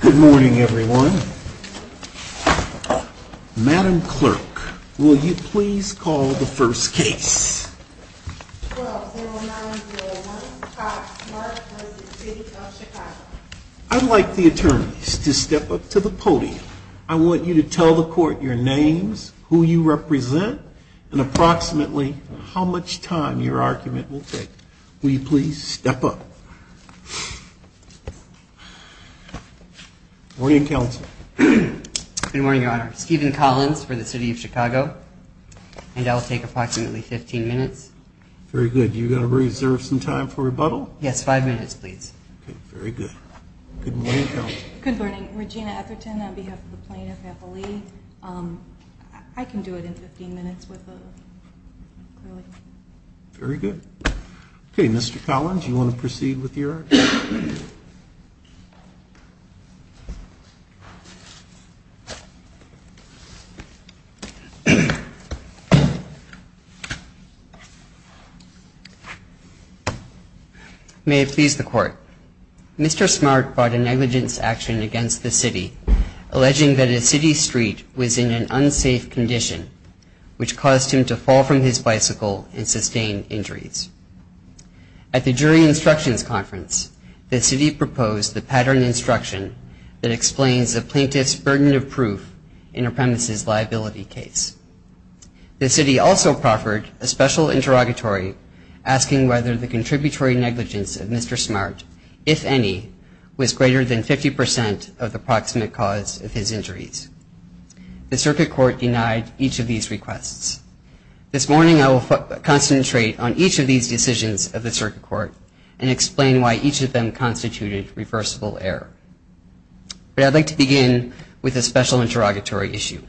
Good morning everyone. Madam Clerk, will you please call the first case. 12-09-01, Mark v. City of Chicago. I'd like the attorneys to step up to the podium. I want you to tell the court your names, who you represent, and approximately how much time your argument will take. Will you please step up. Good morning, Counsel. Good morning, Your Honor. Stephen Collins for the City of Chicago, and I'll take approximately 15 minutes. Very good. You're going to reserve some time for rebuttal? Yes, five minutes, please. Okay, very good. Good morning, Counsel. Good morning. Regina Etherton on behalf of the Plano faculty. I can do it in 15 minutes. Very good. Okay, Mr. Collins, do you want to proceed with your argument? Thank you, Your Honor. May it please the Court. Mr. Smart brought a negligence action against the City, alleging that a City street was in an unsafe condition, which caused him to fall from his bicycle and sustain injuries. At the jury instructions conference, the City proposed the pattern instruction that explains the plaintiff's burden of proof in a premises liability case. The City also proffered a special interrogatory, asking whether the contributory negligence of Mr. Smart, if any, was greater than 50% of the proximate cause of his injuries. The circuit court denied each of these requests. This morning, I will concentrate on each of these decisions of the circuit court and explain why each of them constituted reversible error. But I'd like to begin with a special interrogatory issue.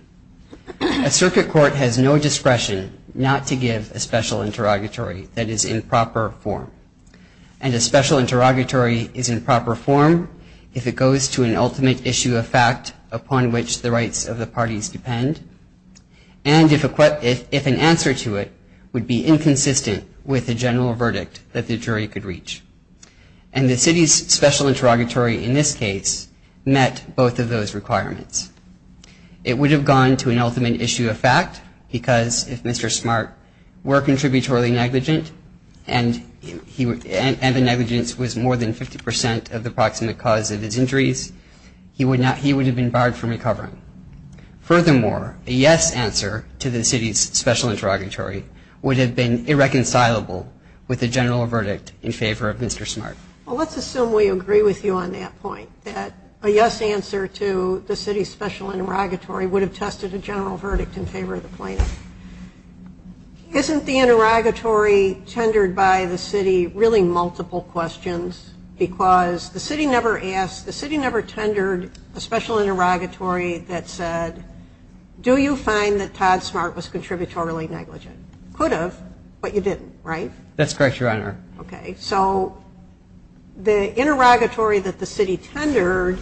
A circuit court has no discretion not to give a special interrogatory that is in proper form. And a special interrogatory is in proper form if it goes to an ultimate issue of fact upon which the rights of the parties depend, and if an answer to it would be inconsistent with the general verdict that the jury could reach. And the City's special interrogatory in this case met both of those requirements. It would have gone to an ultimate issue of fact, because if Mr. Smart were contributory negligent, and the negligence was more than 50% of the proximate cause of his injuries, he would have been barred from recovering. Furthermore, a yes answer to the City's special interrogatory would have been irreconcilable with the general verdict in favor of Mr. Smart. Well, let's assume we agree with you on that point, that a yes answer to the City's special interrogatory would have tested a general verdict in favor of the plaintiff. Isn't the interrogatory tendered by the City really multiple questions? Because the City never asked, the City never tendered a special interrogatory that said, do you find that Todd Smart was contributory negligent? Could have, but you didn't, right? That's correct, Your Honor. Okay, so the interrogatory that the City tendered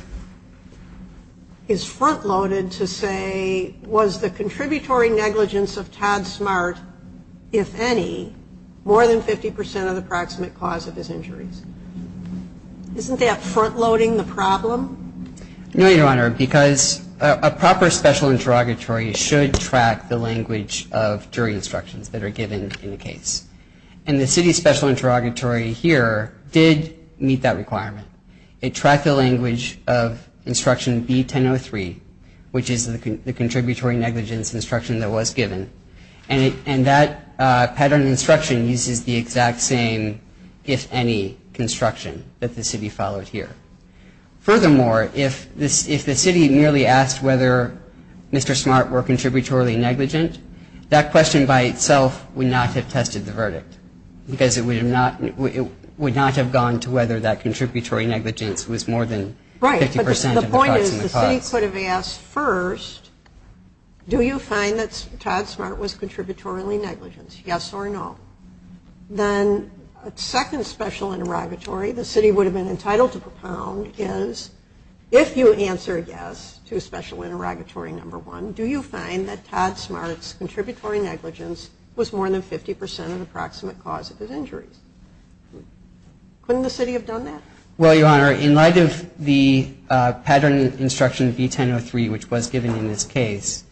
is front-loaded to say, was the contributory negligence of Todd Smart, if any, more than 50% of the proximate cause of his injuries? Isn't that front-loading the problem? No, Your Honor, because a proper special interrogatory should track the language of jury instructions that are given in the case. And the City's special interrogatory here did meet that requirement. It tracked the language of instruction B-1003, which is the contributory negligence instruction that was given. And that pattern of instruction uses the exact same, if any, construction that the City followed here. Furthermore, if the City merely asked whether Mr. Smart were contributory negligent, that question by itself would not have tested the verdict, because it would not have gone to whether that contributory negligence was more than 50% of the proximate cause. Right, but the point is the City could have asked first, do you find that Todd Smart was contributory negligent, yes or no? Then a second special interrogatory the City would have been entitled to propound is, if you answer yes to special interrogatory number one, do you find that Todd Smart's contributory negligence was more than 50% of the proximate cause of his injuries? Couldn't the City have done that? Well, Your Honor, in light of the pattern of instruction B-1003, which was given in this case,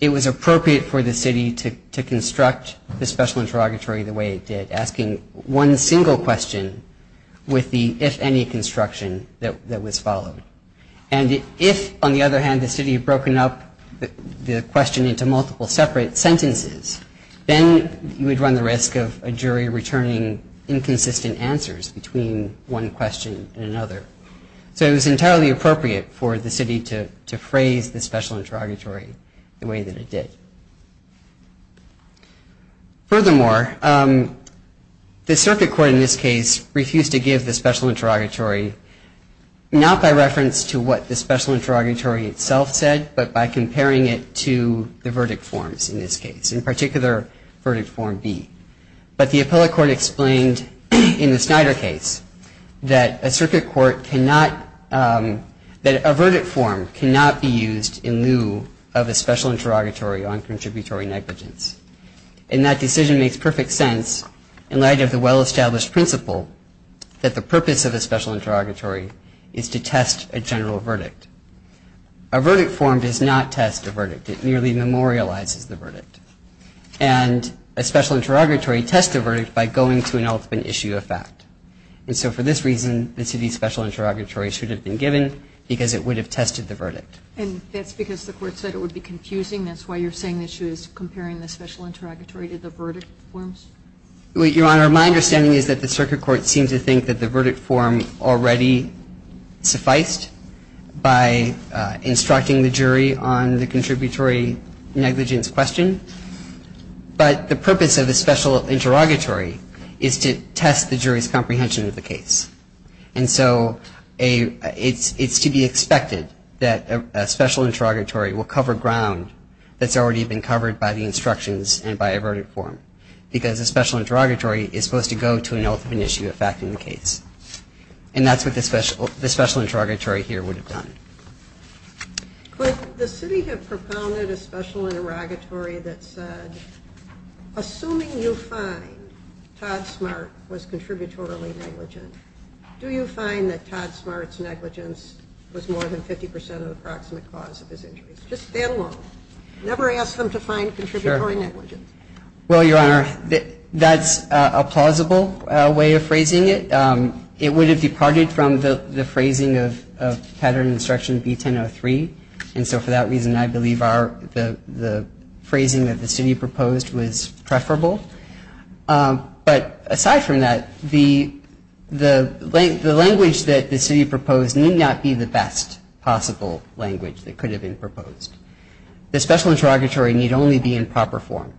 it was appropriate for the City to construct the special interrogatory the way it did, asking one single question with the, if any, construction that was followed. And if, on the other hand, the City had broken up the question into multiple separate sentences, then you would run the risk of a jury returning inconsistent answers between one question and another. So it was entirely appropriate for the City to phrase the special interrogatory the way that it did. Furthermore, the Circuit Court in this case refused to give the special interrogatory, not by reference to what the special interrogatory itself said, but by comparing it to the verdict forms in this case, in particular, Verdict Form B. But the Appellate Court explained in the Snyder case that a verdict form cannot be used in lieu of a special interrogatory on contributory negligence. And that decision makes perfect sense in light of the well-established principle that the purpose of a special interrogatory is to test a general verdict. A verdict form does not test a verdict. It merely memorializes the verdict. And a special interrogatory tests a verdict by going to an ultimate issue of fact. And so for this reason, the City's special interrogatory should have been given because it would have tested the verdict. And that's because the Court said it would be confusing. That's why you're saying the issue is comparing the special interrogatory to the verdict forms? Your Honor, my understanding is that the Circuit Court seems to think that the verdict form already sufficed by instructing the jury on the contributory negligence question. But the purpose of the special interrogatory is to test the jury's comprehension of the case. And so it's to be expected that a special interrogatory will cover ground that's already been covered by the instructions and by a verdict form, because a special interrogatory is supposed to go to an ultimate issue of fact in the case. And that's what the special interrogatory here would have done. Could the City have propounded a special interrogatory that said, assuming you find Todd Smart was contributorily negligent, do you find that Todd Smart's negligence was more than 50% of the approximate cause of his injuries? Just stand alone. Never ask them to find contributory negligence. Well, Your Honor, that's a plausible way of phrasing it. It would have departed from the phrasing of Pattern Instruction B-10-03. And so for that reason, I believe the phrasing that the City proposed was preferable. But aside from that, the language that the City proposed need not be the best possible language that could have been proposed. The special interrogatory need only be in proper form.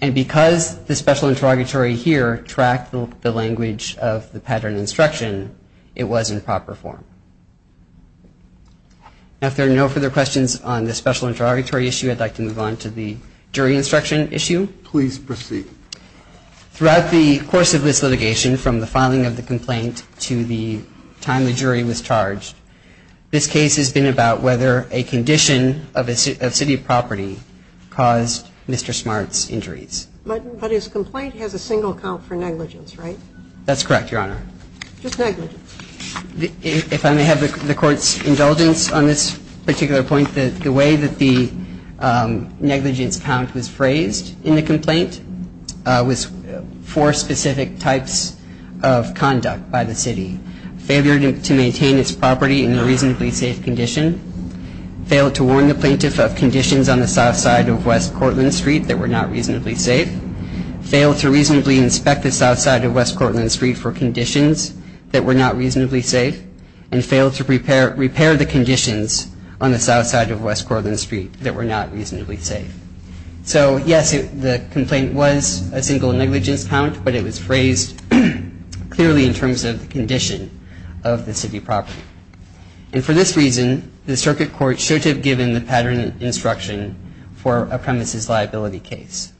And because the special interrogatory here tracked the language of the pattern instruction, it was in proper form. Now, if there are no further questions on the special interrogatory issue, I'd like to move on to the jury instruction issue. Please proceed. Throughout the course of this litigation, from the filing of the complaint to the time the jury was charged, this case has been about whether a condition of city property caused Mr. Smart's injuries. But his complaint has a single count for negligence, right? That's correct, Your Honor. Just negligence. If I may have the Court's indulgence on this particular point, with four specific types of conduct by the City. Failure to maintain its property in reasonably safe condition. Failed to warn the plaintiff of conditions on the south side of West Courland Street that were not reasonably safe. Failed to reasonably inspect the south side of West Courland Street for conditions that were not reasonably safe. And failed to repair the conditions on the south side of West Courland Street that were not reasonably safe. So, yes, the complaint was a single negligence count, but it was phrased clearly in terms of the condition of the city property. And for this reason, the Circuit Court should have given the pattern instruction for a premises liability case.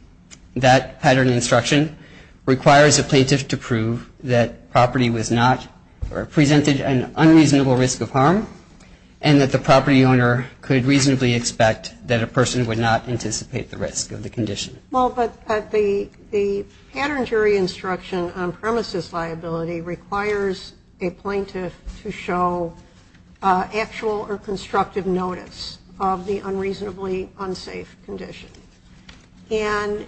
That pattern instruction requires a plaintiff to prove that property was not or presented an unreasonable risk of harm and that the property owner could reasonably expect that a person would not anticipate the risk of the condition. Well, but the pattern jury instruction on premises liability requires a plaintiff to show actual or constructive notice of the unreasonably unsafe condition. And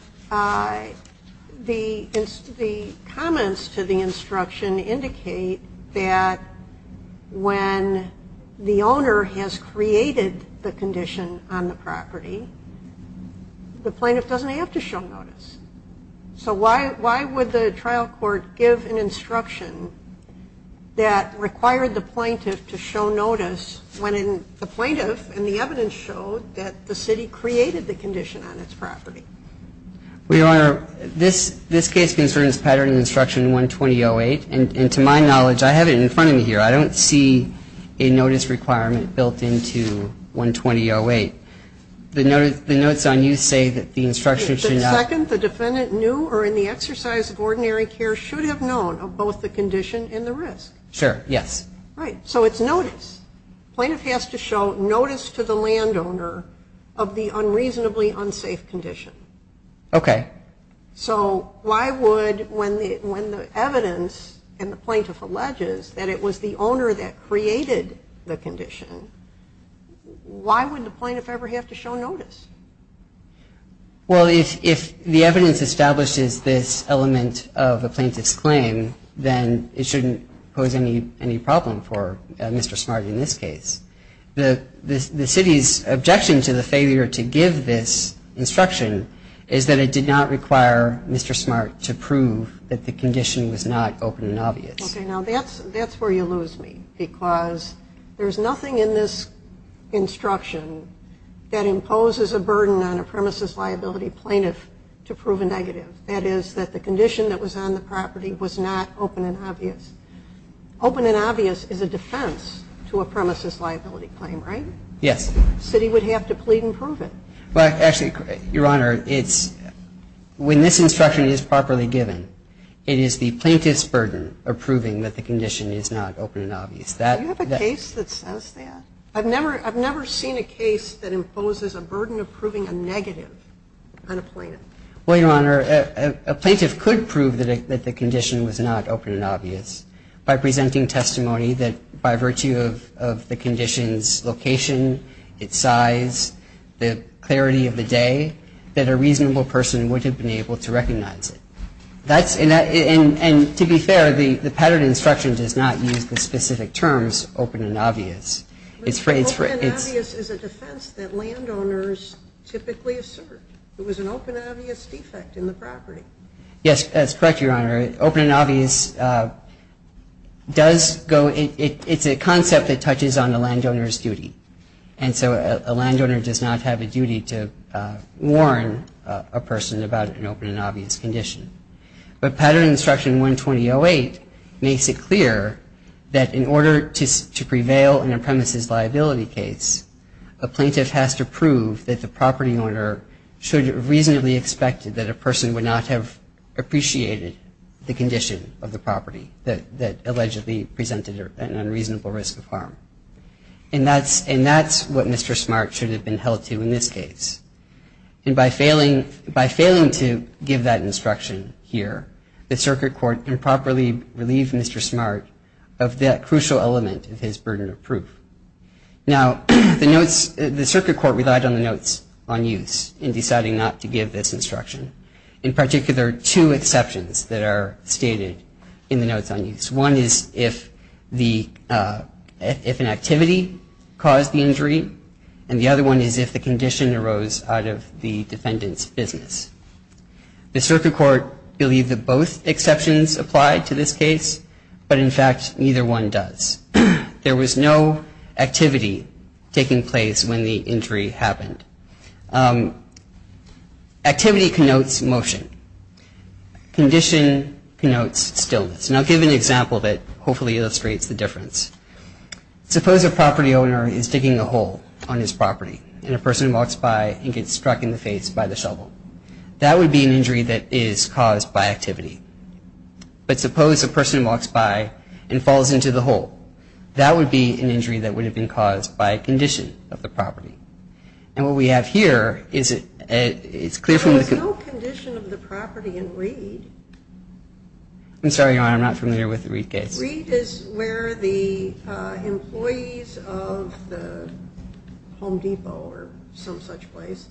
the comments to the instruction indicate that when the owner has created the condition on the property, the plaintiff doesn't have to show notice. So why would the trial court give an instruction that required the plaintiff to show notice when the plaintiff and the evidence showed that the city created the condition on its property? Well, Your Honor, this case concerns pattern instruction 120.08. And to my knowledge, I have it in front of me here. I don't see a notice requirement built into 120.08. The notes on you say that the instruction should not The second, the defendant knew or in the exercise of ordinary care should have known of both the condition and the risk. Sure, yes. Right. So it's notice. Plaintiff has to show notice to the landowner of the unreasonably unsafe condition. Okay. So why would, when the evidence and the plaintiff alleges that it was the owner that created the condition, why would the plaintiff ever have to show notice? Well, if the evidence establishes this element of the plaintiff's claim, then it shouldn't pose any problem for Mr. Smart in this case. The city's objection to the failure to give this instruction is that it did not require Mr. Smart to prove that the condition was not open and obvious. Okay. Now, that's where you lose me because there's nothing in this instruction that imposes a burden on a premises liability plaintiff to prove a negative. That is, that the condition that was on the property was not open and obvious. Open and obvious is a defense to a premises liability claim, right? Yes. The city would have to plead and prove it. Well, actually, Your Honor, it's, when this instruction is properly given, it is the plaintiff's burden of proving that the condition is not open and obvious. Do you have a case that says that? I've never seen a case that imposes a burden of proving a negative on a plaintiff. Well, Your Honor, a plaintiff could prove that the condition was not open and obvious by presenting testimony that by virtue of the condition's location, its size, the clarity of the day, that a reasonable person would have been able to recognize it. And to be fair, the pattern instruction does not use the specific terms open and obvious. Open and obvious is a defense that landowners typically assert. It was an open and obvious defect in the property. Yes, that's correct, Your Honor. Open and obvious does go, it's a concept that touches on a landowner's duty. And so a landowner does not have a duty to warn a person about an open and obvious condition. But pattern instruction 120.08 makes it clear that in order to prevail in a premises liability case, a plaintiff has to prove that the property owner should have reasonably expected that a person would not have appreciated the condition of the property that allegedly presented an unreasonable risk of harm. And that's what Mr. Smart should have been held to in this case. And by failing to give that instruction here, the circuit court improperly relieved Mr. Smart of that crucial element of his burden of proof. Now, the circuit court relied on the notes on use in deciding not to give this instruction. In particular, two exceptions that are stated in the notes on use. One is if an activity caused the injury, and the other one is if the condition arose out of the defendant's business. The circuit court believed that both exceptions applied to this case, but in fact, neither one does. There was no activity taking place when the injury happened. Activity connotes motion. Condition connotes stillness. And I'll give an example that hopefully illustrates the difference. Suppose a property owner is digging a hole on his property, and a person walks by and gets struck in the face by the shovel. That would be an injury that is caused by activity. But suppose a person walks by and falls into the hole. That would be an injury that would have been caused by a condition of the property. And what we have here is it's clear from the condition. There was no condition of the property in Reed. I'm sorry, Your Honor, I'm not familiar with the Reed case. Reed is where the employees of the Home Depot, or some such place,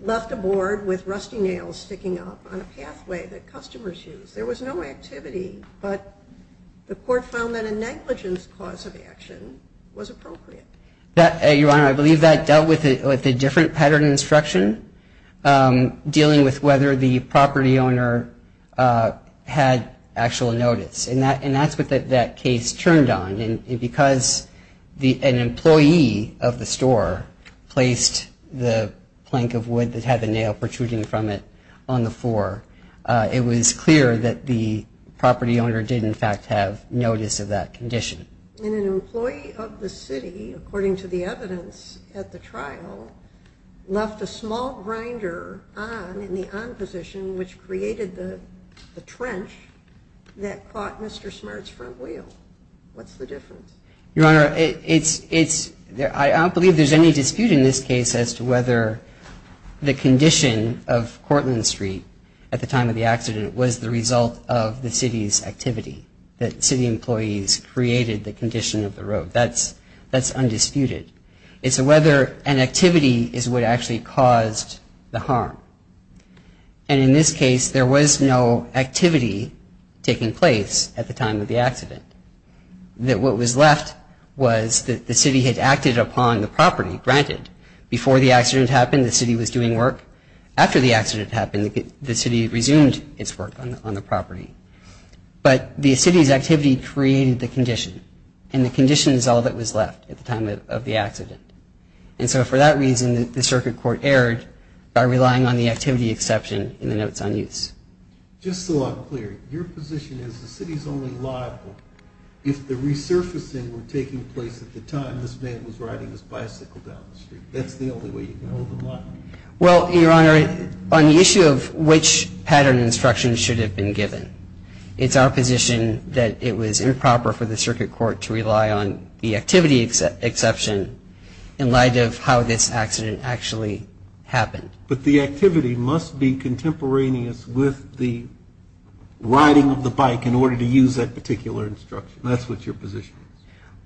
left a board with rusty nails sticking up on a pathway that customers use. There was no activity, but the court found that a negligence cause of action was appropriate. Your Honor, I believe that dealt with a different pattern of instruction, dealing with whether the property owner had actual notice. And that's what that case turned on. And because an employee of the store placed the plank of wood that had the nail protruding from it on the floor, it was clear that the property owner did in fact have notice of that condition. And an employee of the city, according to the evidence at the trial, left a small grinder on in the on position, which created the trench that caught Mr. Smart's front wheel. What's the difference? Your Honor, I don't believe there's any dispute in this case as to whether the condition of Cortland Street at the time of the accident was the result of the city's activity, that city employees created the condition of the road. That's undisputed. And in this case, there was no activity taking place at the time of the accident. That what was left was that the city had acted upon the property, granted. Before the accident happened, the city was doing work. After the accident happened, the city resumed its work on the property. But the city's activity created the condition, and the condition is all that was left at the time of the accident. And so for that reason, the circuit court erred by relying on the activity exception in the notes on use. Just so I'm clear, your position is the city's only liable if the resurfacing were taking place at the time this man was riding his bicycle down the street. That's the only way you can hold them liable? Well, Your Honor, on the issue of which pattern of instruction should have been given, it's our position that it was improper for the circuit court to rely on the activity exception in light of how this accident actually happened. But the activity must be contemporaneous with the riding of the bike in order to use that particular instruction. That's what your position is.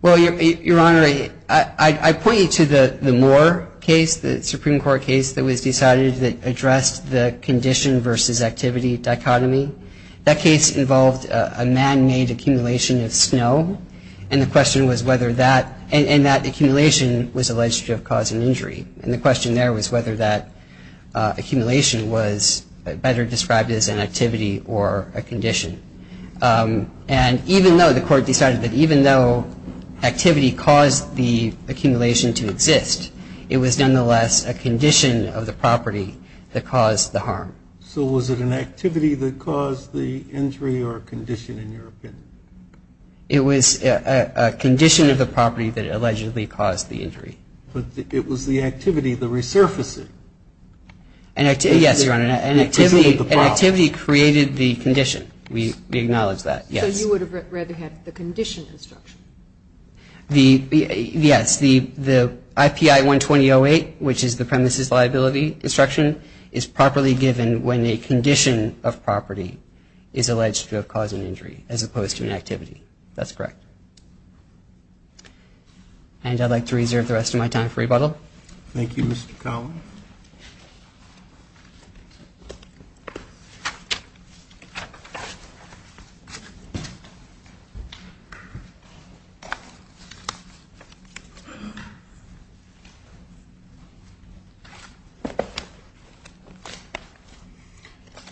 Well, Your Honor, I point you to the Moore case, the Supreme Court case that was decided that addressed the condition versus activity dichotomy. That case involved a man-made accumulation of snow, and that accumulation was alleged to have caused an injury. And the question there was whether that accumulation was better described as an activity or a condition. And even though the court decided that even though activity caused the accumulation to exist, it was nonetheless a condition of the property that caused the harm. So was it an activity that caused the injury or a condition, in your opinion? It was a condition of the property that allegedly caused the injury. But it was the activity, the resurfacing. Yes, Your Honor, an activity created the condition. We acknowledge that, yes. So you would have rather had the condition instruction. Yes. The IPI 120.08, which is the premises liability instruction, is properly given when a condition of property is alleged to have caused an injury as opposed to an activity. That's correct. And I'd like to reserve the rest of my time for rebuttal. Thank you, Mr. Collin.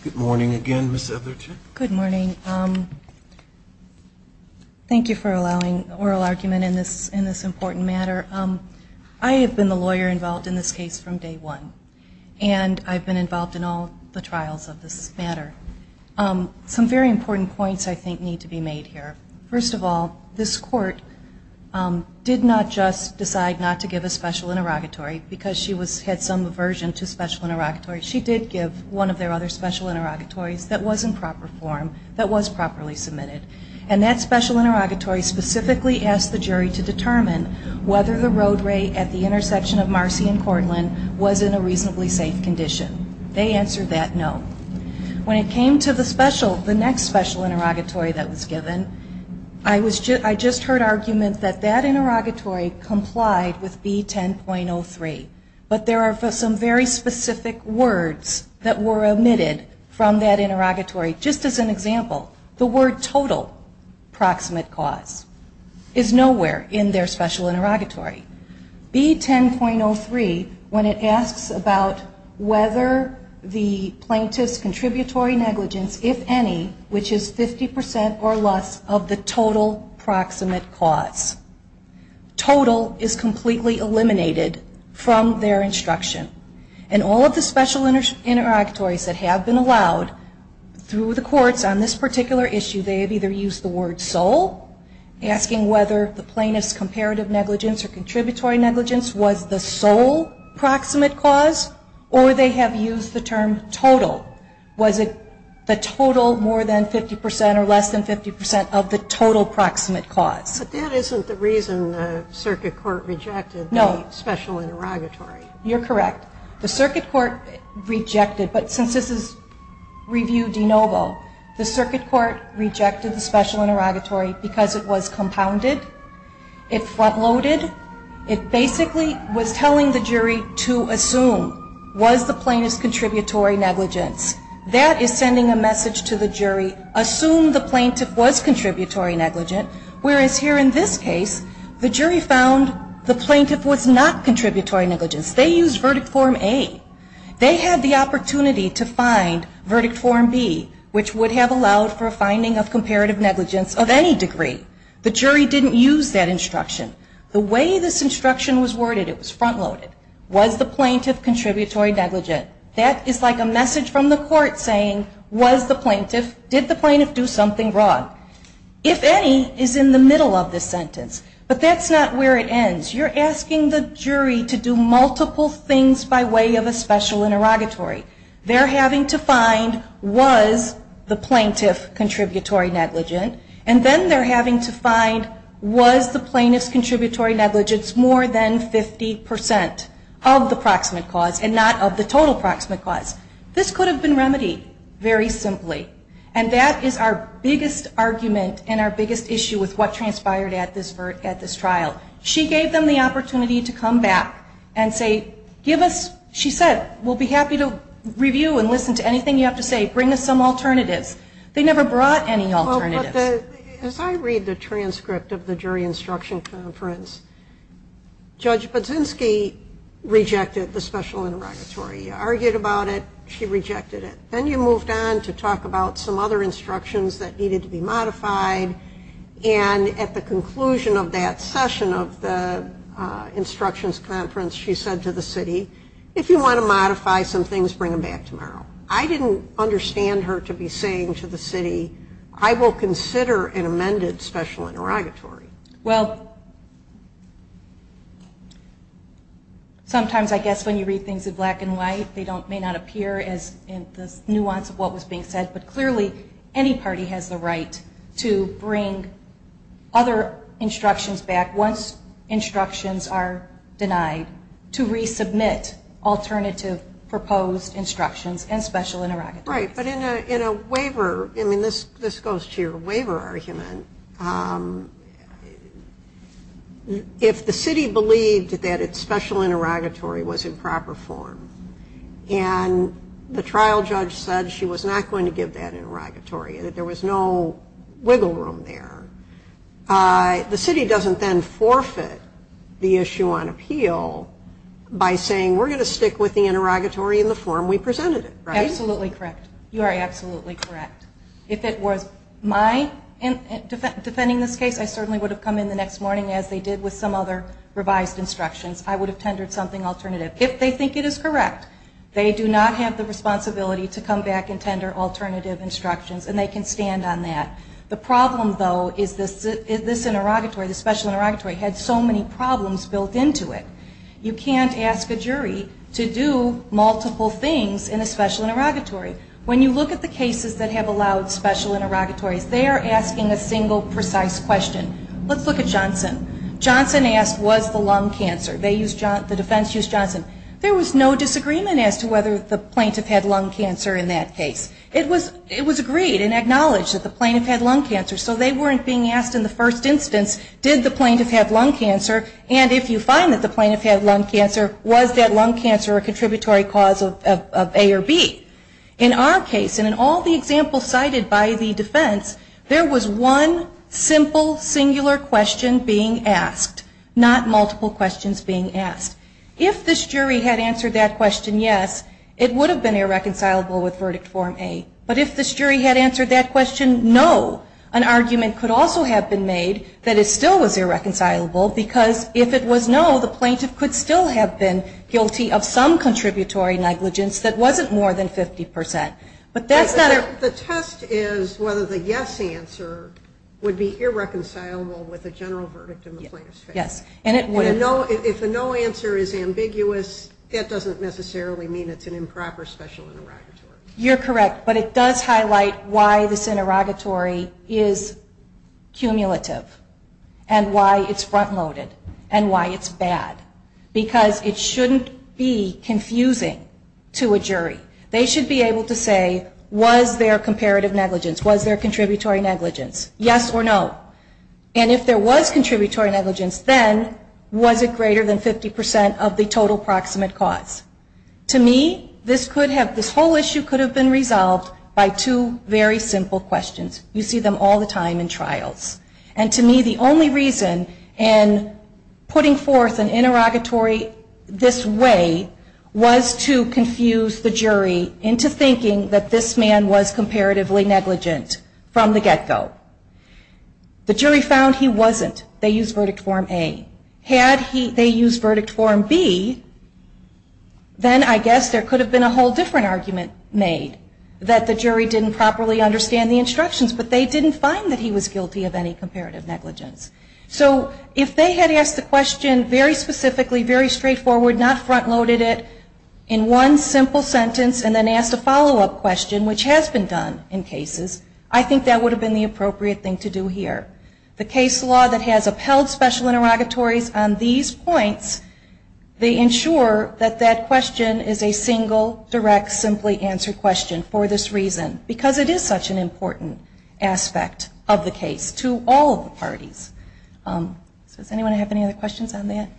Good morning again, Ms. Etheridge. Good morning. Thank you for allowing oral argument in this important matter. I have been the lawyer involved in this case from day one, and I've been involved in all the trials of this matter. Some very important points, I think, need to be made here. First of all, this court did not just decide not to give a special interrogatory because she had some aversion to special interrogatory. She did give one of their other special interrogatories that was in proper form, that was properly submitted. And that special interrogatory specifically asked the jury to determine whether the roadway at the intersection of Marcy and Cortland was in a reasonably safe condition. They answered that no. When it came to the next special interrogatory that was given, I just heard argument that that interrogatory complied with B10.03. But there are some very specific words that were omitted from that interrogatory. Just as an example, the word total proximate cause is nowhere in their special interrogatory. B10.03, when it asks about whether the plaintiff's contributory negligence, if any, which is 50% or less, of the total proximate cause. Total is completely eliminated from their instruction. And all of the special interrogatories that have been allowed through the courts on this particular issue, they have either used the word sole, asking whether the plaintiff's comparative negligence or contributory negligence was the sole proximate cause, or they have used the term total. Was it the total more than 50% or less than 50% of the total proximate cause? But that isn't the reason the circuit court rejected the special interrogatory. You're correct. The circuit court rejected, but since this is review de novo, the circuit court rejected the special interrogatory because it was compounded, it front-loaded. It basically was telling the jury to assume, was the plaintiff's contributory negligence. That is sending a message to the jury, assume the plaintiff was contributory negligent, whereas here in this case, the jury found the plaintiff was not contributory negligence. They used verdict form A. They had the opportunity to find verdict form B, which would have allowed for a finding of comparative negligence of any degree. The jury didn't use that instruction. The way this instruction was worded, it was front-loaded. Was the plaintiff contributory negligent? That is like a message from the court saying, was the plaintiff, did the plaintiff do something wrong? If any is in the middle of this sentence, but that's not where it ends. You're asking the jury to do multiple things by way of a special interrogatory. They're having to find, was the plaintiff contributory negligent? And then they're having to find, was the plaintiff's contributory negligence more than 50 percent of the proximate cause and not of the total proximate cause? This could have been remedied very simply. And that is our biggest argument and our biggest issue with what transpired at this trial. She gave them the opportunity to come back and say, give us, she said, we'll be happy to review and listen to anything you have to say. Bring us some alternatives. They never brought any alternatives. As I read the transcript of the jury instruction conference, Judge Budzinski rejected the special interrogatory. You argued about it. She rejected it. Then you moved on to talk about some other instructions that needed to be modified. And at the conclusion of that session of the instructions conference, she said to the city, if you want to modify some things, bring them back tomorrow. I didn't understand her to be saying to the city, I will consider an amended special interrogatory. Well, sometimes I guess when you read things in black and white, they may not appear in the nuance of what was being said. But clearly any party has the right to bring other instructions back once instructions are denied to resubmit alternative proposed instructions and special interrogatory. Right. But in a waiver, I mean, this goes to your waiver argument, if the city believed that its special interrogatory was in proper form and the trial judge said she was not going to give that interrogatory, that there was no wiggle room there, the city doesn't then forfeit the issue on appeal by saying we're going to stick with the interrogatory in the form we presented it, right? You are absolutely correct. If it was my defending this case, I certainly would have come in the next morning as they did with some other revised instructions. I would have tendered something alternative. If they think it is correct, they do not have the responsibility to come back and tender alternative instructions, and they can stand on that. The problem, though, is this interrogatory, the special interrogatory, had so many problems built into it. You can't ask a jury to do multiple things in a special interrogatory. When you look at the cases that have allowed special interrogatories, they are asking a single precise question. Let's look at Johnson. Johnson asked was the lung cancer, the defense used Johnson. There was no disagreement as to whether the plaintiff had lung cancer in that case. It was agreed and acknowledged that the plaintiff had lung cancer, so they weren't being asked in the first instance, did the plaintiff have lung cancer, and if you find that the plaintiff had lung cancer, was that lung cancer a contributory cause of A or B? In our case, and in all the examples cited by the defense, there was one simple, singular question being asked, not multiple questions being asked. If this jury had answered that question, yes, it would have been irreconcilable with Verdict Form A. But if this jury had answered that question, no, an argument could also have been made that it still was irreconcilable, because if it was no, the plaintiff could still have been guilty of some contributory negligence that wasn't more than 50%. The test is whether the yes answer would be irreconcilable with the general verdict in the plaintiff's case. Yes, and it would. If the no answer is ambiguous, that doesn't necessarily mean it's an improper special interrogatory. You're correct, but it does highlight why this interrogatory is cumulative, and why it's front-loaded, and why it's bad, because it shouldn't be confusing to a jury. They should be able to say, was there comparative negligence? Was there contributory negligence? Yes or no? And if there was contributory negligence, then was it greater than 50% of the total proximate cause? To me, this whole issue could have been resolved by two very simple questions. You see them all the time in trials, and to me, the only reason in putting forth an interrogatory this way was to confuse the jury into thinking that this man was comparatively negligent from the get-go. The jury found he wasn't. They used verdict form A. Had they used verdict form B, then I guess there could have been a whole different argument made, that the jury didn't properly understand the instructions, but they didn't find that he was guilty of any comparative negligence. So if they had asked the question very specifically, very straightforward, not front-loaded it, in one simple sentence, and then asked a follow-up question, which has been done in cases, I think that would have been the appropriate thing to do here. The case law that has upheld special interrogatories on these points, they ensure that that question is a single, direct, simply answered question for this reason, because it is such an important aspect of the case to all of the parties. Does anyone have any other questions on that?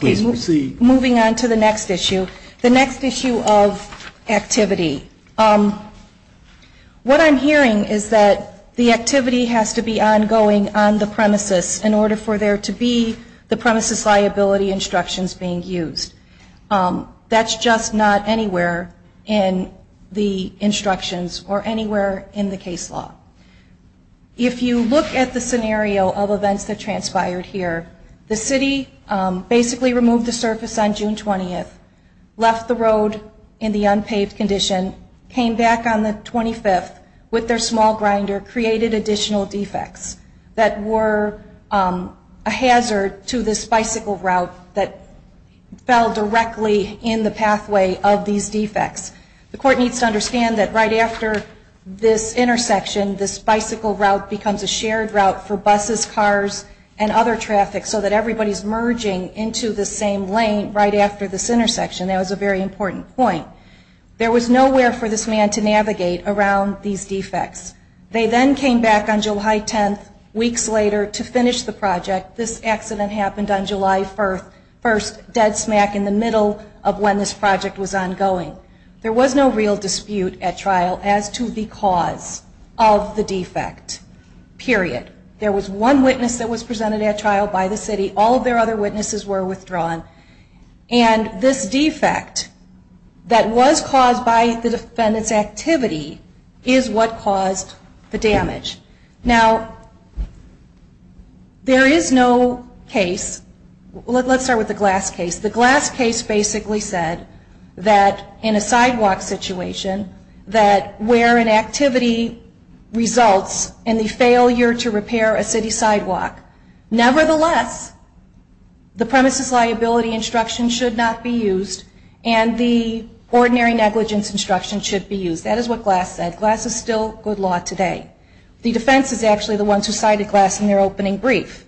Moving on to the next issue, the next issue of activity. What I'm hearing is that the activity has to be ongoing on the premises in order for there to be the premises liability instructions being used. That's just not anywhere in the instructions or anywhere in the case law. If you look at the scenario of events that transpired here, the city basically removed the surface on June 20, left the road in the unpaved condition, came back on the 25th with their small grinder, created additional defects that were a hazard to this bicycle route that fell directly in the pathway of these defects. The court needs to understand that right after this intersection, this bicycle route becomes a shared route for buses, cars, and other traffic, so that everybody is merging into the same lane right after this intersection. That was a very important point. There was nowhere for this man to navigate around these defects. They then came back on July 10, weeks later, to finish the project. This accident happened on July 1, dead smack in the middle of when this project was ongoing. There was no real dispute at trial as to the cause of the defect, period. There was one witness that was presented at trial by the city. All of their other witnesses were withdrawn. And this defect that was caused by the defendant's activity is what caused the damage. Now, there is no case, let's start with the Glass case. The Glass case basically said that in a sidewalk situation, where an activity results in the failure to repair a city sidewalk, nevertheless, the premises liability instruction should not be used, and the ordinary negligence instruction should be used. That is what Glass said. Glass is still good law today. The defense is actually the ones who cited Glass in their opening brief.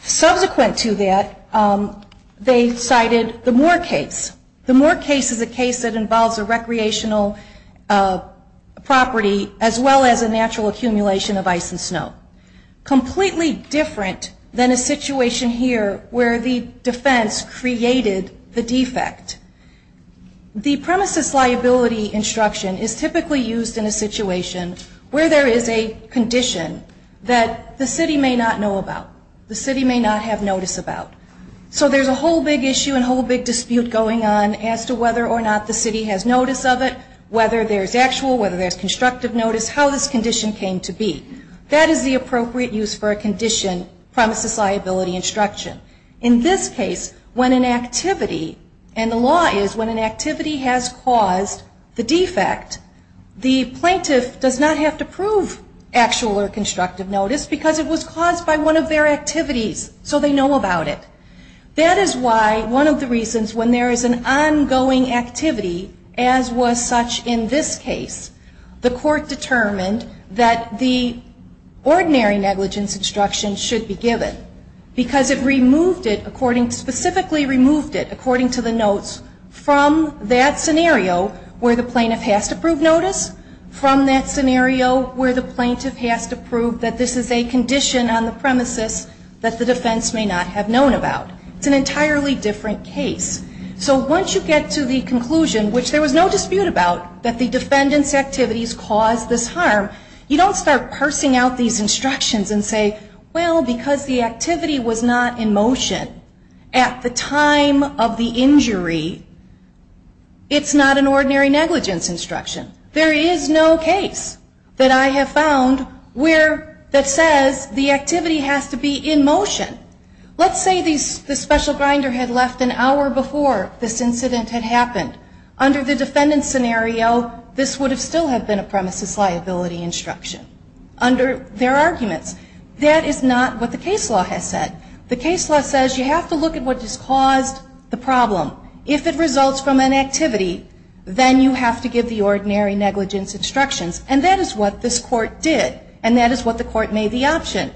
Subsequent to that, they cited the Moore case. The Moore case is a case that involves a recreational property, as well as a natural accumulation of ice and snow. Completely different than a situation here where the defense created the defect. The premises liability instruction is typically used in a situation where there is a condition that the city may not know about. The city may not have notice about. So there's a whole big issue and whole big dispute going on as to whether or not the city has notice of it, whether there's actual, whether there's constructive notice, how this condition came to be. That is the appropriate use for a condition, premises liability instruction. In this case, when an activity, and the law is when an activity has caused the defect, the plaintiff does not have to prove actual or constructive notice, because it was caused by one of their activities, so they know about it. That is why one of the reasons when there is an ongoing activity, as was such in this case, the court determined that the ordinary negligence instruction should be given, because it removed it, specifically removed it, according to the notes, from that scenario where the plaintiff has to prove notice, from that scenario where the plaintiff has to prove that this is a condition on the premises that the defense may not have known about. It's an entirely different case. So once you get to the conclusion, which there was no dispute about, that the defendant's activities caused this harm, you don't start parsing out these instructions and say, well, because the activity was not in motion at the time of the injury, it's not an ordinary negligence instruction. There is no case that I have found where that says the activity has to be in motion. Let's say the special grinder had left an hour before this incident had happened. Under the defendant's scenario, this would still have been a premises liability instruction, under their arguments. That is not what the case law has said. The case law says you have to look at what has caused the problem. If it results from an activity, then you have to give the ordinary negligence instructions, and that is what this Court did, and that is what the Court made the option.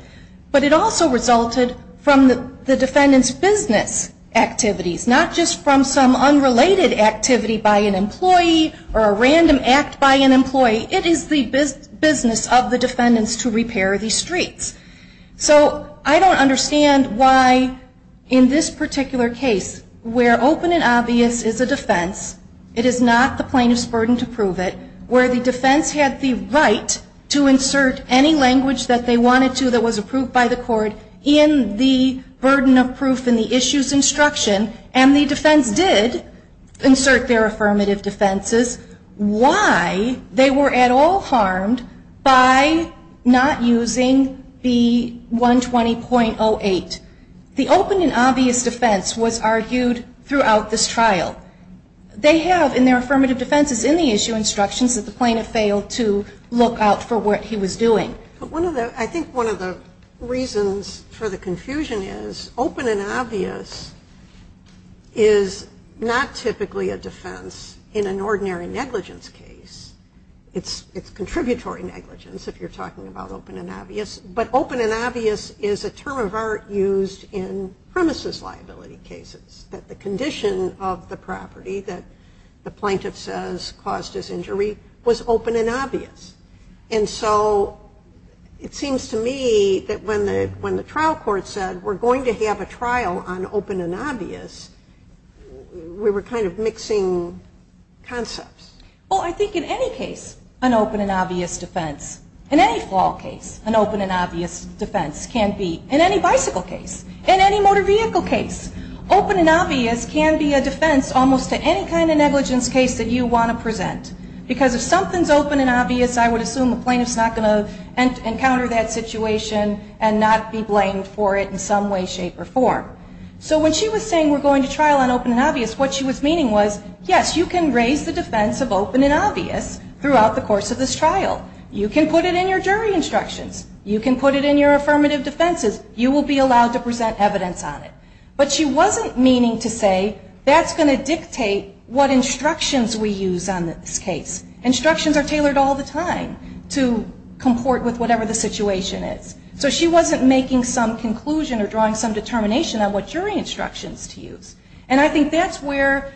But it also resulted from the defendant's business activities, not just from some unrelated activity by an employee or a random act by an employee. It is the business of the defendants to repair these streets. So I don't understand why, in this particular case, where open and obvious is a defense, it is not the plaintiff's burden to prove it, where the defense had the right to insert any language that they wanted to that was approved by the Court in the burden of proof in the issue's instruction, and the defense did insert their affirmative defenses, why they were at all harmed by not using the 120.08. The open and obvious defense was argued throughout this trial. They have, in their affirmative defenses in the issue instructions, that the plaintiff failed to look out for what he was doing. I think one of the reasons for the confusion is open and obvious is not typically a defense in an ordinary negligence case. It's contributory negligence if you're talking about open and obvious, but open and obvious is a term of art used in premises liability cases, that the condition of the property that the plaintiff says caused his injury was open and obvious. And so it seems to me that when the trial court said, we're going to have a trial on open and obvious, we were kind of mixing concepts. Well, I think in any case, an open and obvious defense, in any fall case, an open and obvious defense can be, in any bicycle case, in any motor vehicle case, open and obvious can be a defense almost to any kind of negligence case that you want to present. Because if something's open and obvious, I would assume the plaintiff's not going to encounter that situation and not be blamed for it in some way, shape, or form. So when she was saying we're going to trial on open and obvious, what she was meaning was, yes, you can raise the defense of open and obvious throughout the course of this trial. You can put it in your jury instructions. You can put it in your affirmative defenses. You will be allowed to present evidence on it. But she wasn't meaning to say that's going to dictate what instructions we use on this case. Instructions are tailored all the time to comport with whatever the situation is. So she wasn't making some conclusion or drawing some determination on what jury instructions to use. And I think that's where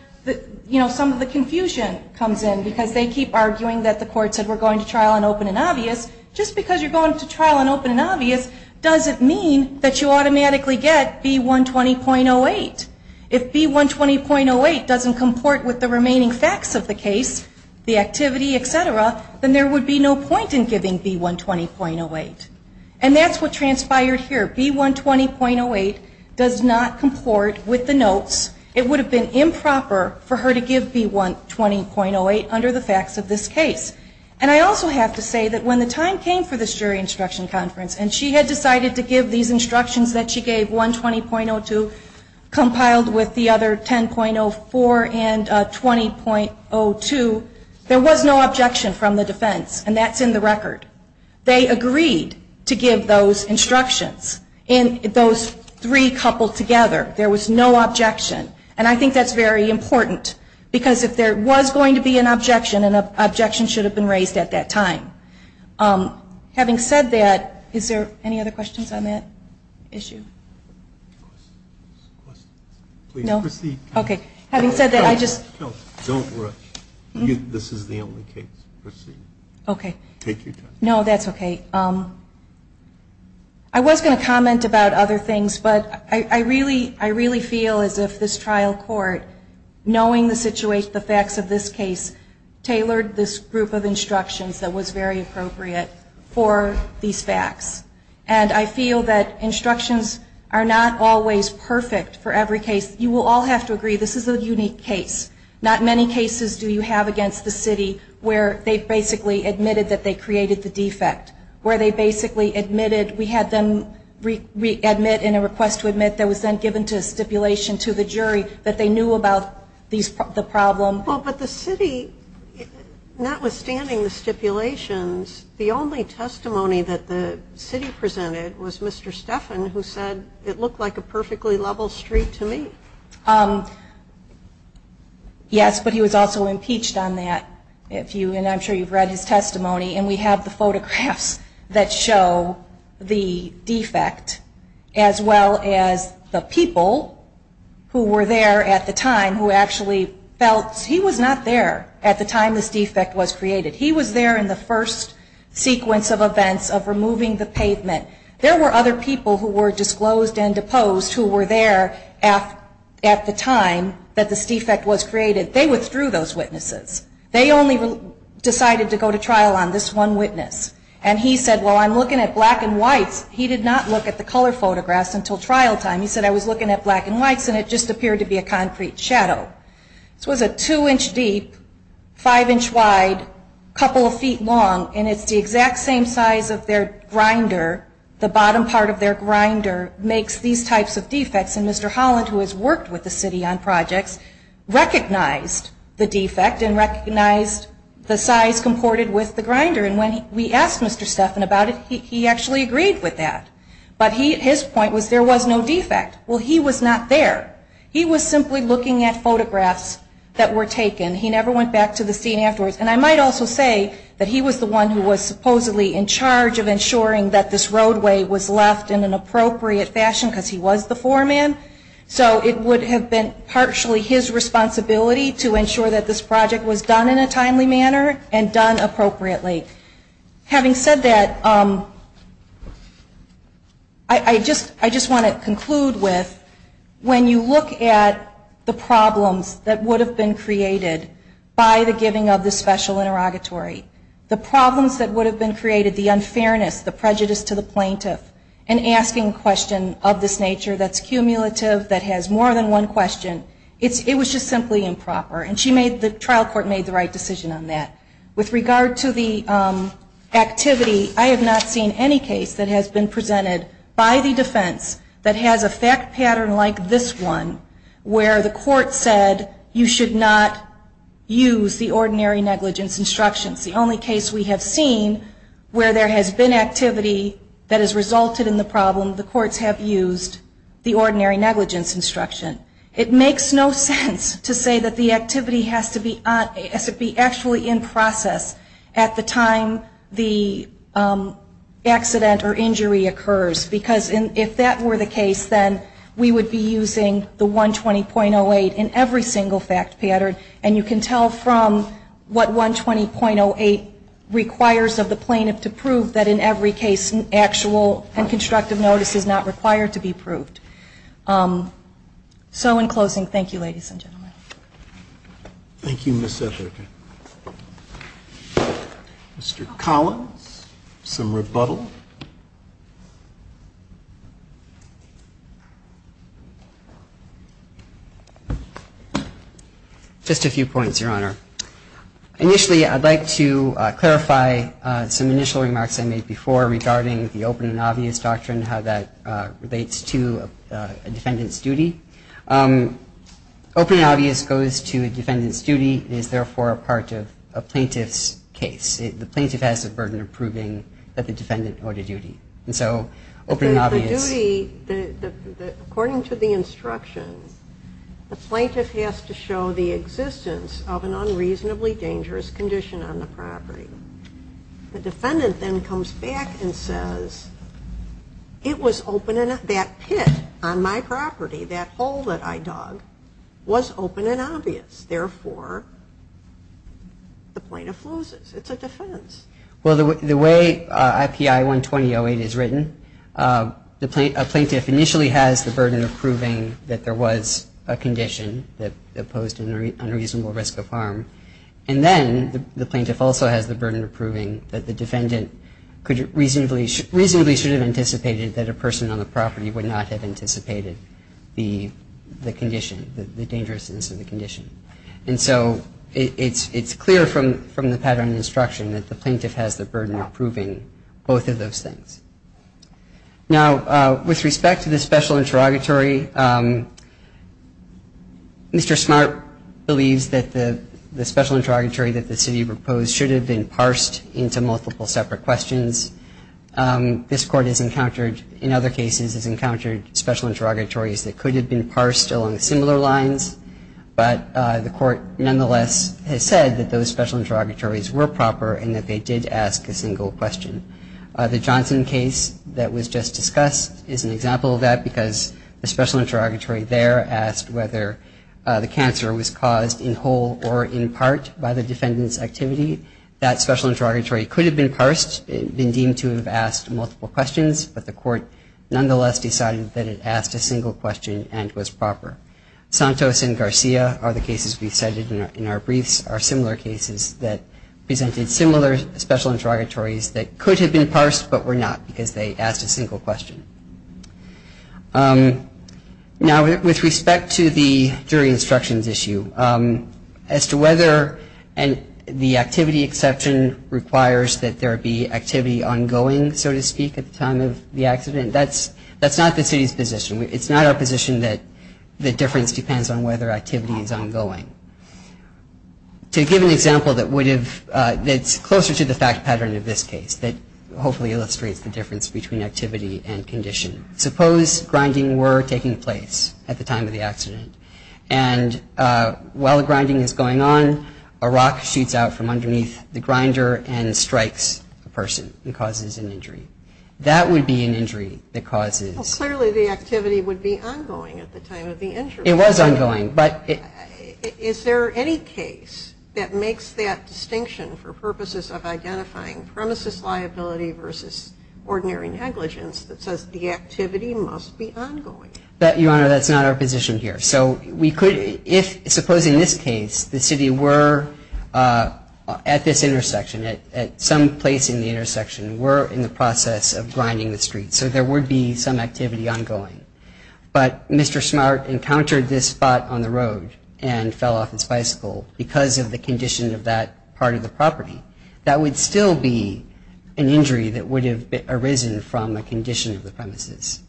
some of the confusion comes in. Because they keep arguing that the court said we're going to trial on open and obvious. Just because you're going to trial on open and obvious doesn't mean that you automatically get B120.08. If B120.08 doesn't comport with the remaining facts of the case, the activity, etc., then there would be no point in giving B120.08. And that's what transpired here. B120.08 does not comport with the notes. It would have been improper for her to give B120.08 under the facts of this case. And I also have to say that when the time came for this jury instruction conference and she had decided to give these instructions that she gave, 120.02 compiled with the other 10.04 and 20.02, there was no objection from the defense. And that's in the record. They agreed to give those instructions in those three coupled together. There was no objection. And I think that's very important. Because if there was going to be an objection, an objection should have been raised at that time. Having said that, is there any other questions on that issue? No? Okay. Having said that, I just... This is the only case. No, that's okay. I was going to comment about other things, but I really feel as if this trial court, knowing the facts of this case, tailored this group of instructions that was very appropriate for these facts. And I feel that instructions are not always perfect for every case. You will all have to agree, this is a unique case. Not many cases do you have against the city where they basically admitted that they created the defect. Where they basically admitted, we had them readmit in a request to admit that was then given to a stipulation to the jury that they knew about the problem. Well, but the city, notwithstanding the stipulations, the only testimony that the city presented was Mr. Stephan, who said, it looked like a perfectly level street to me. Yes, but he was also impeached on that. And I'm sure you've read his testimony. And we have the photographs that show the defect, as well as the people who were there at the time who actually felt he was not there at the time this defect was created. He was there in the first sequence of events of removing the pavement. There were other people who were disclosed and deposed who were there at the time that this defect was created. They withdrew those witnesses. They only decided to go to trial on this one witness. And he said, well, I'm looking at black and whites. He did not look at the color photographs until trial time. He said, I was looking at black and whites, and it just appeared to be a concrete shadow. This was a two-inch deep, five-inch wide, couple of feet long, and it's the exact same size of their grinder. The bottom part of their grinder makes these types of defects. And Mr. Holland, who has worked with the city on projects, recognized the defect and recognized the size that was comported with the grinder. And when we asked Mr. Stephan about it, he actually agreed with that. But his point was there was no defect. Well, he was not there. He was simply looking at photographs that were taken. He never went back to the scene afterwards. And I might also say that he was the one who was supposedly in charge of ensuring that this roadway was left in an appropriate fashion, because he was the foreman. So it would have been partially his responsibility to ensure that this project was done in a timely manner and done appropriately. Having said that, I just want to conclude with, when you look at the problems that would have been created by the giving of the special interrogatory, the problems that would have been created, the unfairness, the prejudice to the plaintiff, and asking a question of this nature that's cumulative, that has more than one question, it was just simply improper. And the trial court made the right decision on that. With regard to the activity, I have not seen any case that has been presented by the defense that has a fact pattern like this one where the court said you should not use the ordinary negligence instructions. The only case we have seen where there has been activity that has resulted in the problem, the courts have used the ordinary negligence instruction. It makes no sense to say that the activity has to be actually in process at the time the accident or injury occurs, because if that were the case, then we would be using the 120.08 in every single fact pattern, and you can tell from what 120.08 requires of the plaintiff to prove that in every case an actual and constructive notice is not required to be proved. So in closing, thank you, ladies and gentlemen. Thank you, Ms. Esher. Mr. Collins, some rebuttal? Just a few points, Your Honor. Initially, I'd like to clarify some initial remarks I made before regarding the open and obvious doctrine, how that relates to a defendant's duty. Open and obvious goes to a defendant's duty and is therefore a part of a plaintiff's case. The plaintiff has the burden of proving that the defendant owed a duty. According to the instructions, the plaintiff has to show the existence of an on-duty duty. The defendant then comes back and says, that pit on my property, that hole that I dug, was open and obvious. Therefore, the plaintiff loses. It's a defense. Well, the way IPI 120.08 is written, a plaintiff initially has the burden of proving that there was a condition that posed an unreasonable risk of harm. And then the plaintiff also has the burden of proving that the defendant reasonably should have anticipated that a person on the property would not have anticipated the condition, the dangerousness of the condition. And so it's clear from the pattern of instruction that the plaintiff has the burden of proving both of those things. Now, with respect to the special interrogatory, Mr. Smart believes that the special interrogatory that the city proposed should have been parsed into multiple separate questions. This Court has encountered, in other cases, has encountered special interrogatories that could have been parsed along similar lines, but the Court nonetheless has said that those special interrogatories were proper and that they did ask a single question. The Johnson case that was just discussed is an example of that because the special interrogatory there asked whether the cancer was caused in whole or in part by the defendant's activity. That special interrogatory could have been parsed, been deemed to have asked multiple questions, but the Court nonetheless decided that it asked a single question and was proper. Santos and Garcia are the cases we cited in our briefs, are similar cases that presented similar special interrogatories that could have been parsed, but were not because they asked a single question. Now, with respect to the jury instructions issue, as to whether the activity exception requires that there be activity ongoing, so to speak, at the time of the accident, that's not the city's position. It's not our position that the difference depends on whether activity is ongoing. To give an example that's closer to the fact pattern of this case, that hopefully illustrates the difference between activity and condition, suppose grinding were taking place at the time of the accident, and while the grinding is going on, a rock shoots out from underneath the grinder and strikes a person and causes an injury. That would be an injury that causes... Well, clearly the activity would be ongoing at the time of the injury. It was ongoing, but... Is there any case that makes that distinction for purposes of identifying premises liability versus ordinary negligence that says the activity must be ongoing? Your Honor, that's not our position here. Suppose in this case the city were at this intersection, at some place in the intersection, were in the process of grinding the street, so there would be some activity ongoing. But Mr. Smart encountered this spot on the road and fell off his bicycle because of the condition of that part of the property. That would still be an injury that would have arisen from a condition of the premises.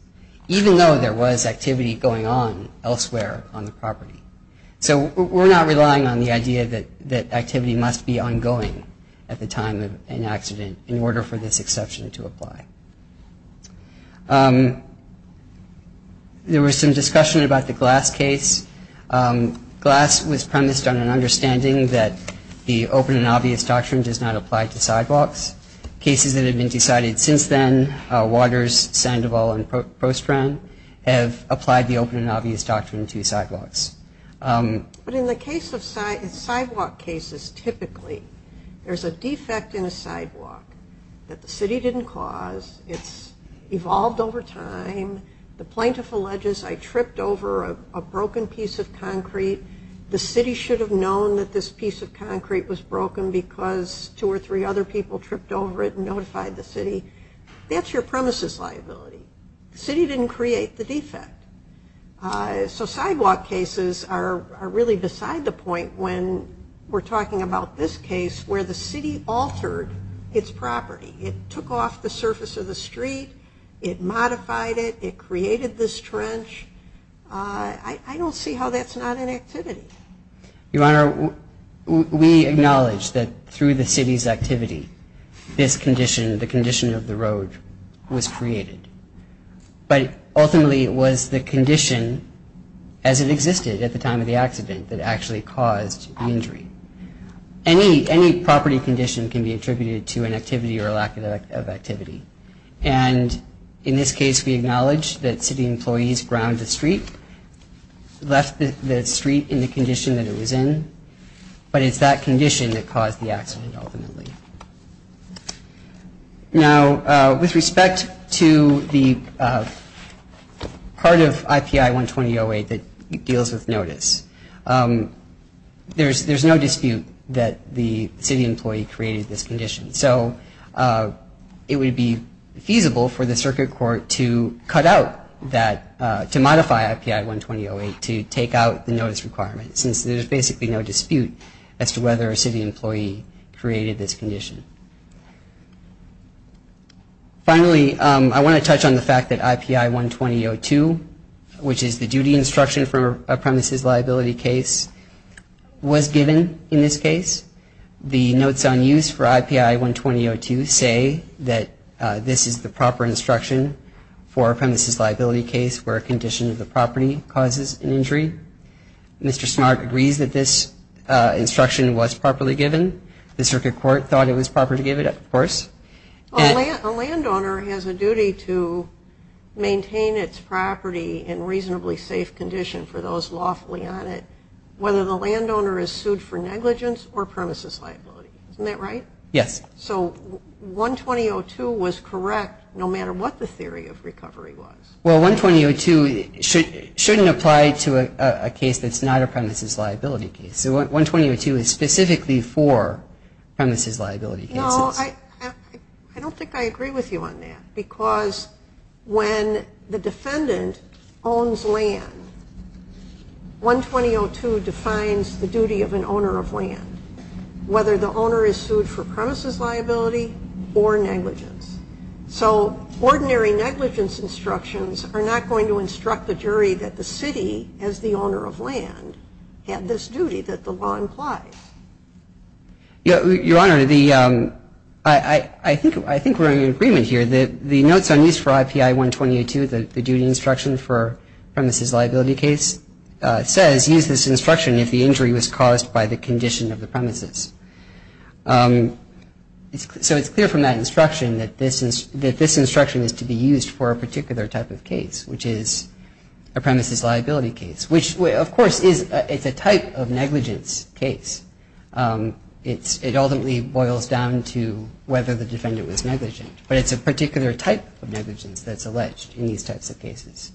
Even though there was activity going on elsewhere on the property. So we're not relying on the idea that activity must be ongoing at the time of an accident in order for this exception to apply. There was some discussion about the Glass case. Glass was premised on an understanding that the open and obvious doctrine does not apply to sidewalks. Cases that have been decided since then, Waters, Sandoval and Postran, have applied the open and obvious doctrine to sidewalks. But in the case of sidewalk cases, typically, there's a defect in a sidewalk that the city didn't cause. It's evolved over time. The plaintiff alleges, I tripped over a broken piece of concrete. The city should have known that this piece of concrete was broken because two or three other people tripped over it and notified the city. That's your premises liability. The city didn't create the defect. So sidewalk cases are really beside the point when we're talking about this case where the city altered its property. It took off the surface of the street. It modified it. It created this trench. I don't see how that's not an activity. Your Honor, we acknowledge that through the city's activity, this condition, the condition of the road, was created. But ultimately, it was the condition as it existed at the time of the accident that actually caused the injury. Any property condition can be attributed to an activity or a lack of activity. And in this case, we acknowledge that city employees ground the street, left the street in the condition that it was in, but it's that condition that caused the accident ultimately. Now, with respect to the part of IPI 120-08 that deals with notice, there's no dispute that the city employee created this condition. So it would be feasible for the circuit court to cut out that, to modify IPI 120-08 to take out the notice requirement, since there's basically no dispute as to whether a city employee created this condition. Finally, I want to touch on the fact that IPI 120-02, which is the duty instruction for a premises liability case, was given in this case. The notes on use for IPI 120-02 say that this is the proper instruction for a premises liability case where a condition of the property causes an injury. Mr. Smart agrees that this instruction was properly given. The circuit court thought it was proper to give it, of course. A landowner has a duty to maintain its property in reasonably safe condition for those lawfully on it, whether the landowner is sued for negligence or premises liability. Isn't that right? Yes. So 120-02 was correct, no matter what the theory of recovery was. Well, 120-02 shouldn't apply to a case that's not a premises liability case. 120-02 is specifically for premises liability cases. No, I don't think I agree with you on that, because when the defendant owns land, 120-02 defines the duty of an owner of land, whether the owner is sued for premises liability or negligence. So ordinary negligence instructions are not going to instruct the jury that the city, as the owner of land, had this duty that the law implies. Your Honor, I think we're in agreement here. The notes on use for IPI 120-02, the duty instruction for premises liability case, says use this instruction if the injury was caused by the condition of the premises. So it's clear from that instruction that this instruction is to be used for a particular type of case, which is a premises liability case, which, of course, is a type of negligence case. It ultimately boils down to whether the defendant was negligent. But it's a particular type of negligence that's alleged in these types of cases.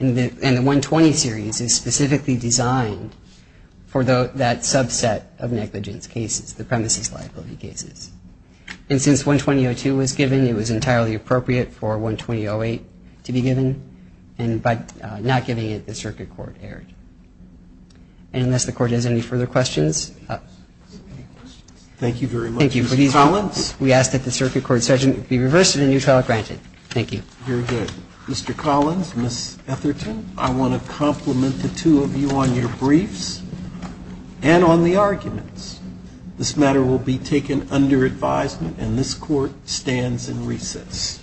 And the 120 series is specifically designed for that subset of negligence cases, the premises liability cases. And since 120-02 was given, it was entirely appropriate for 120-08 to be given. And by not giving it, the circuit court erred. And unless the Court has any further questions. Thank you very much, Mr. Collins. We ask that the circuit court's judgment be reversed and a new trial granted. Thank you. You're good. Mr. Collins, Ms. Etherton, I want to compliment the two of you on your briefs and on the arguments. This matter will be taken under advisement, and this Court stands in recess.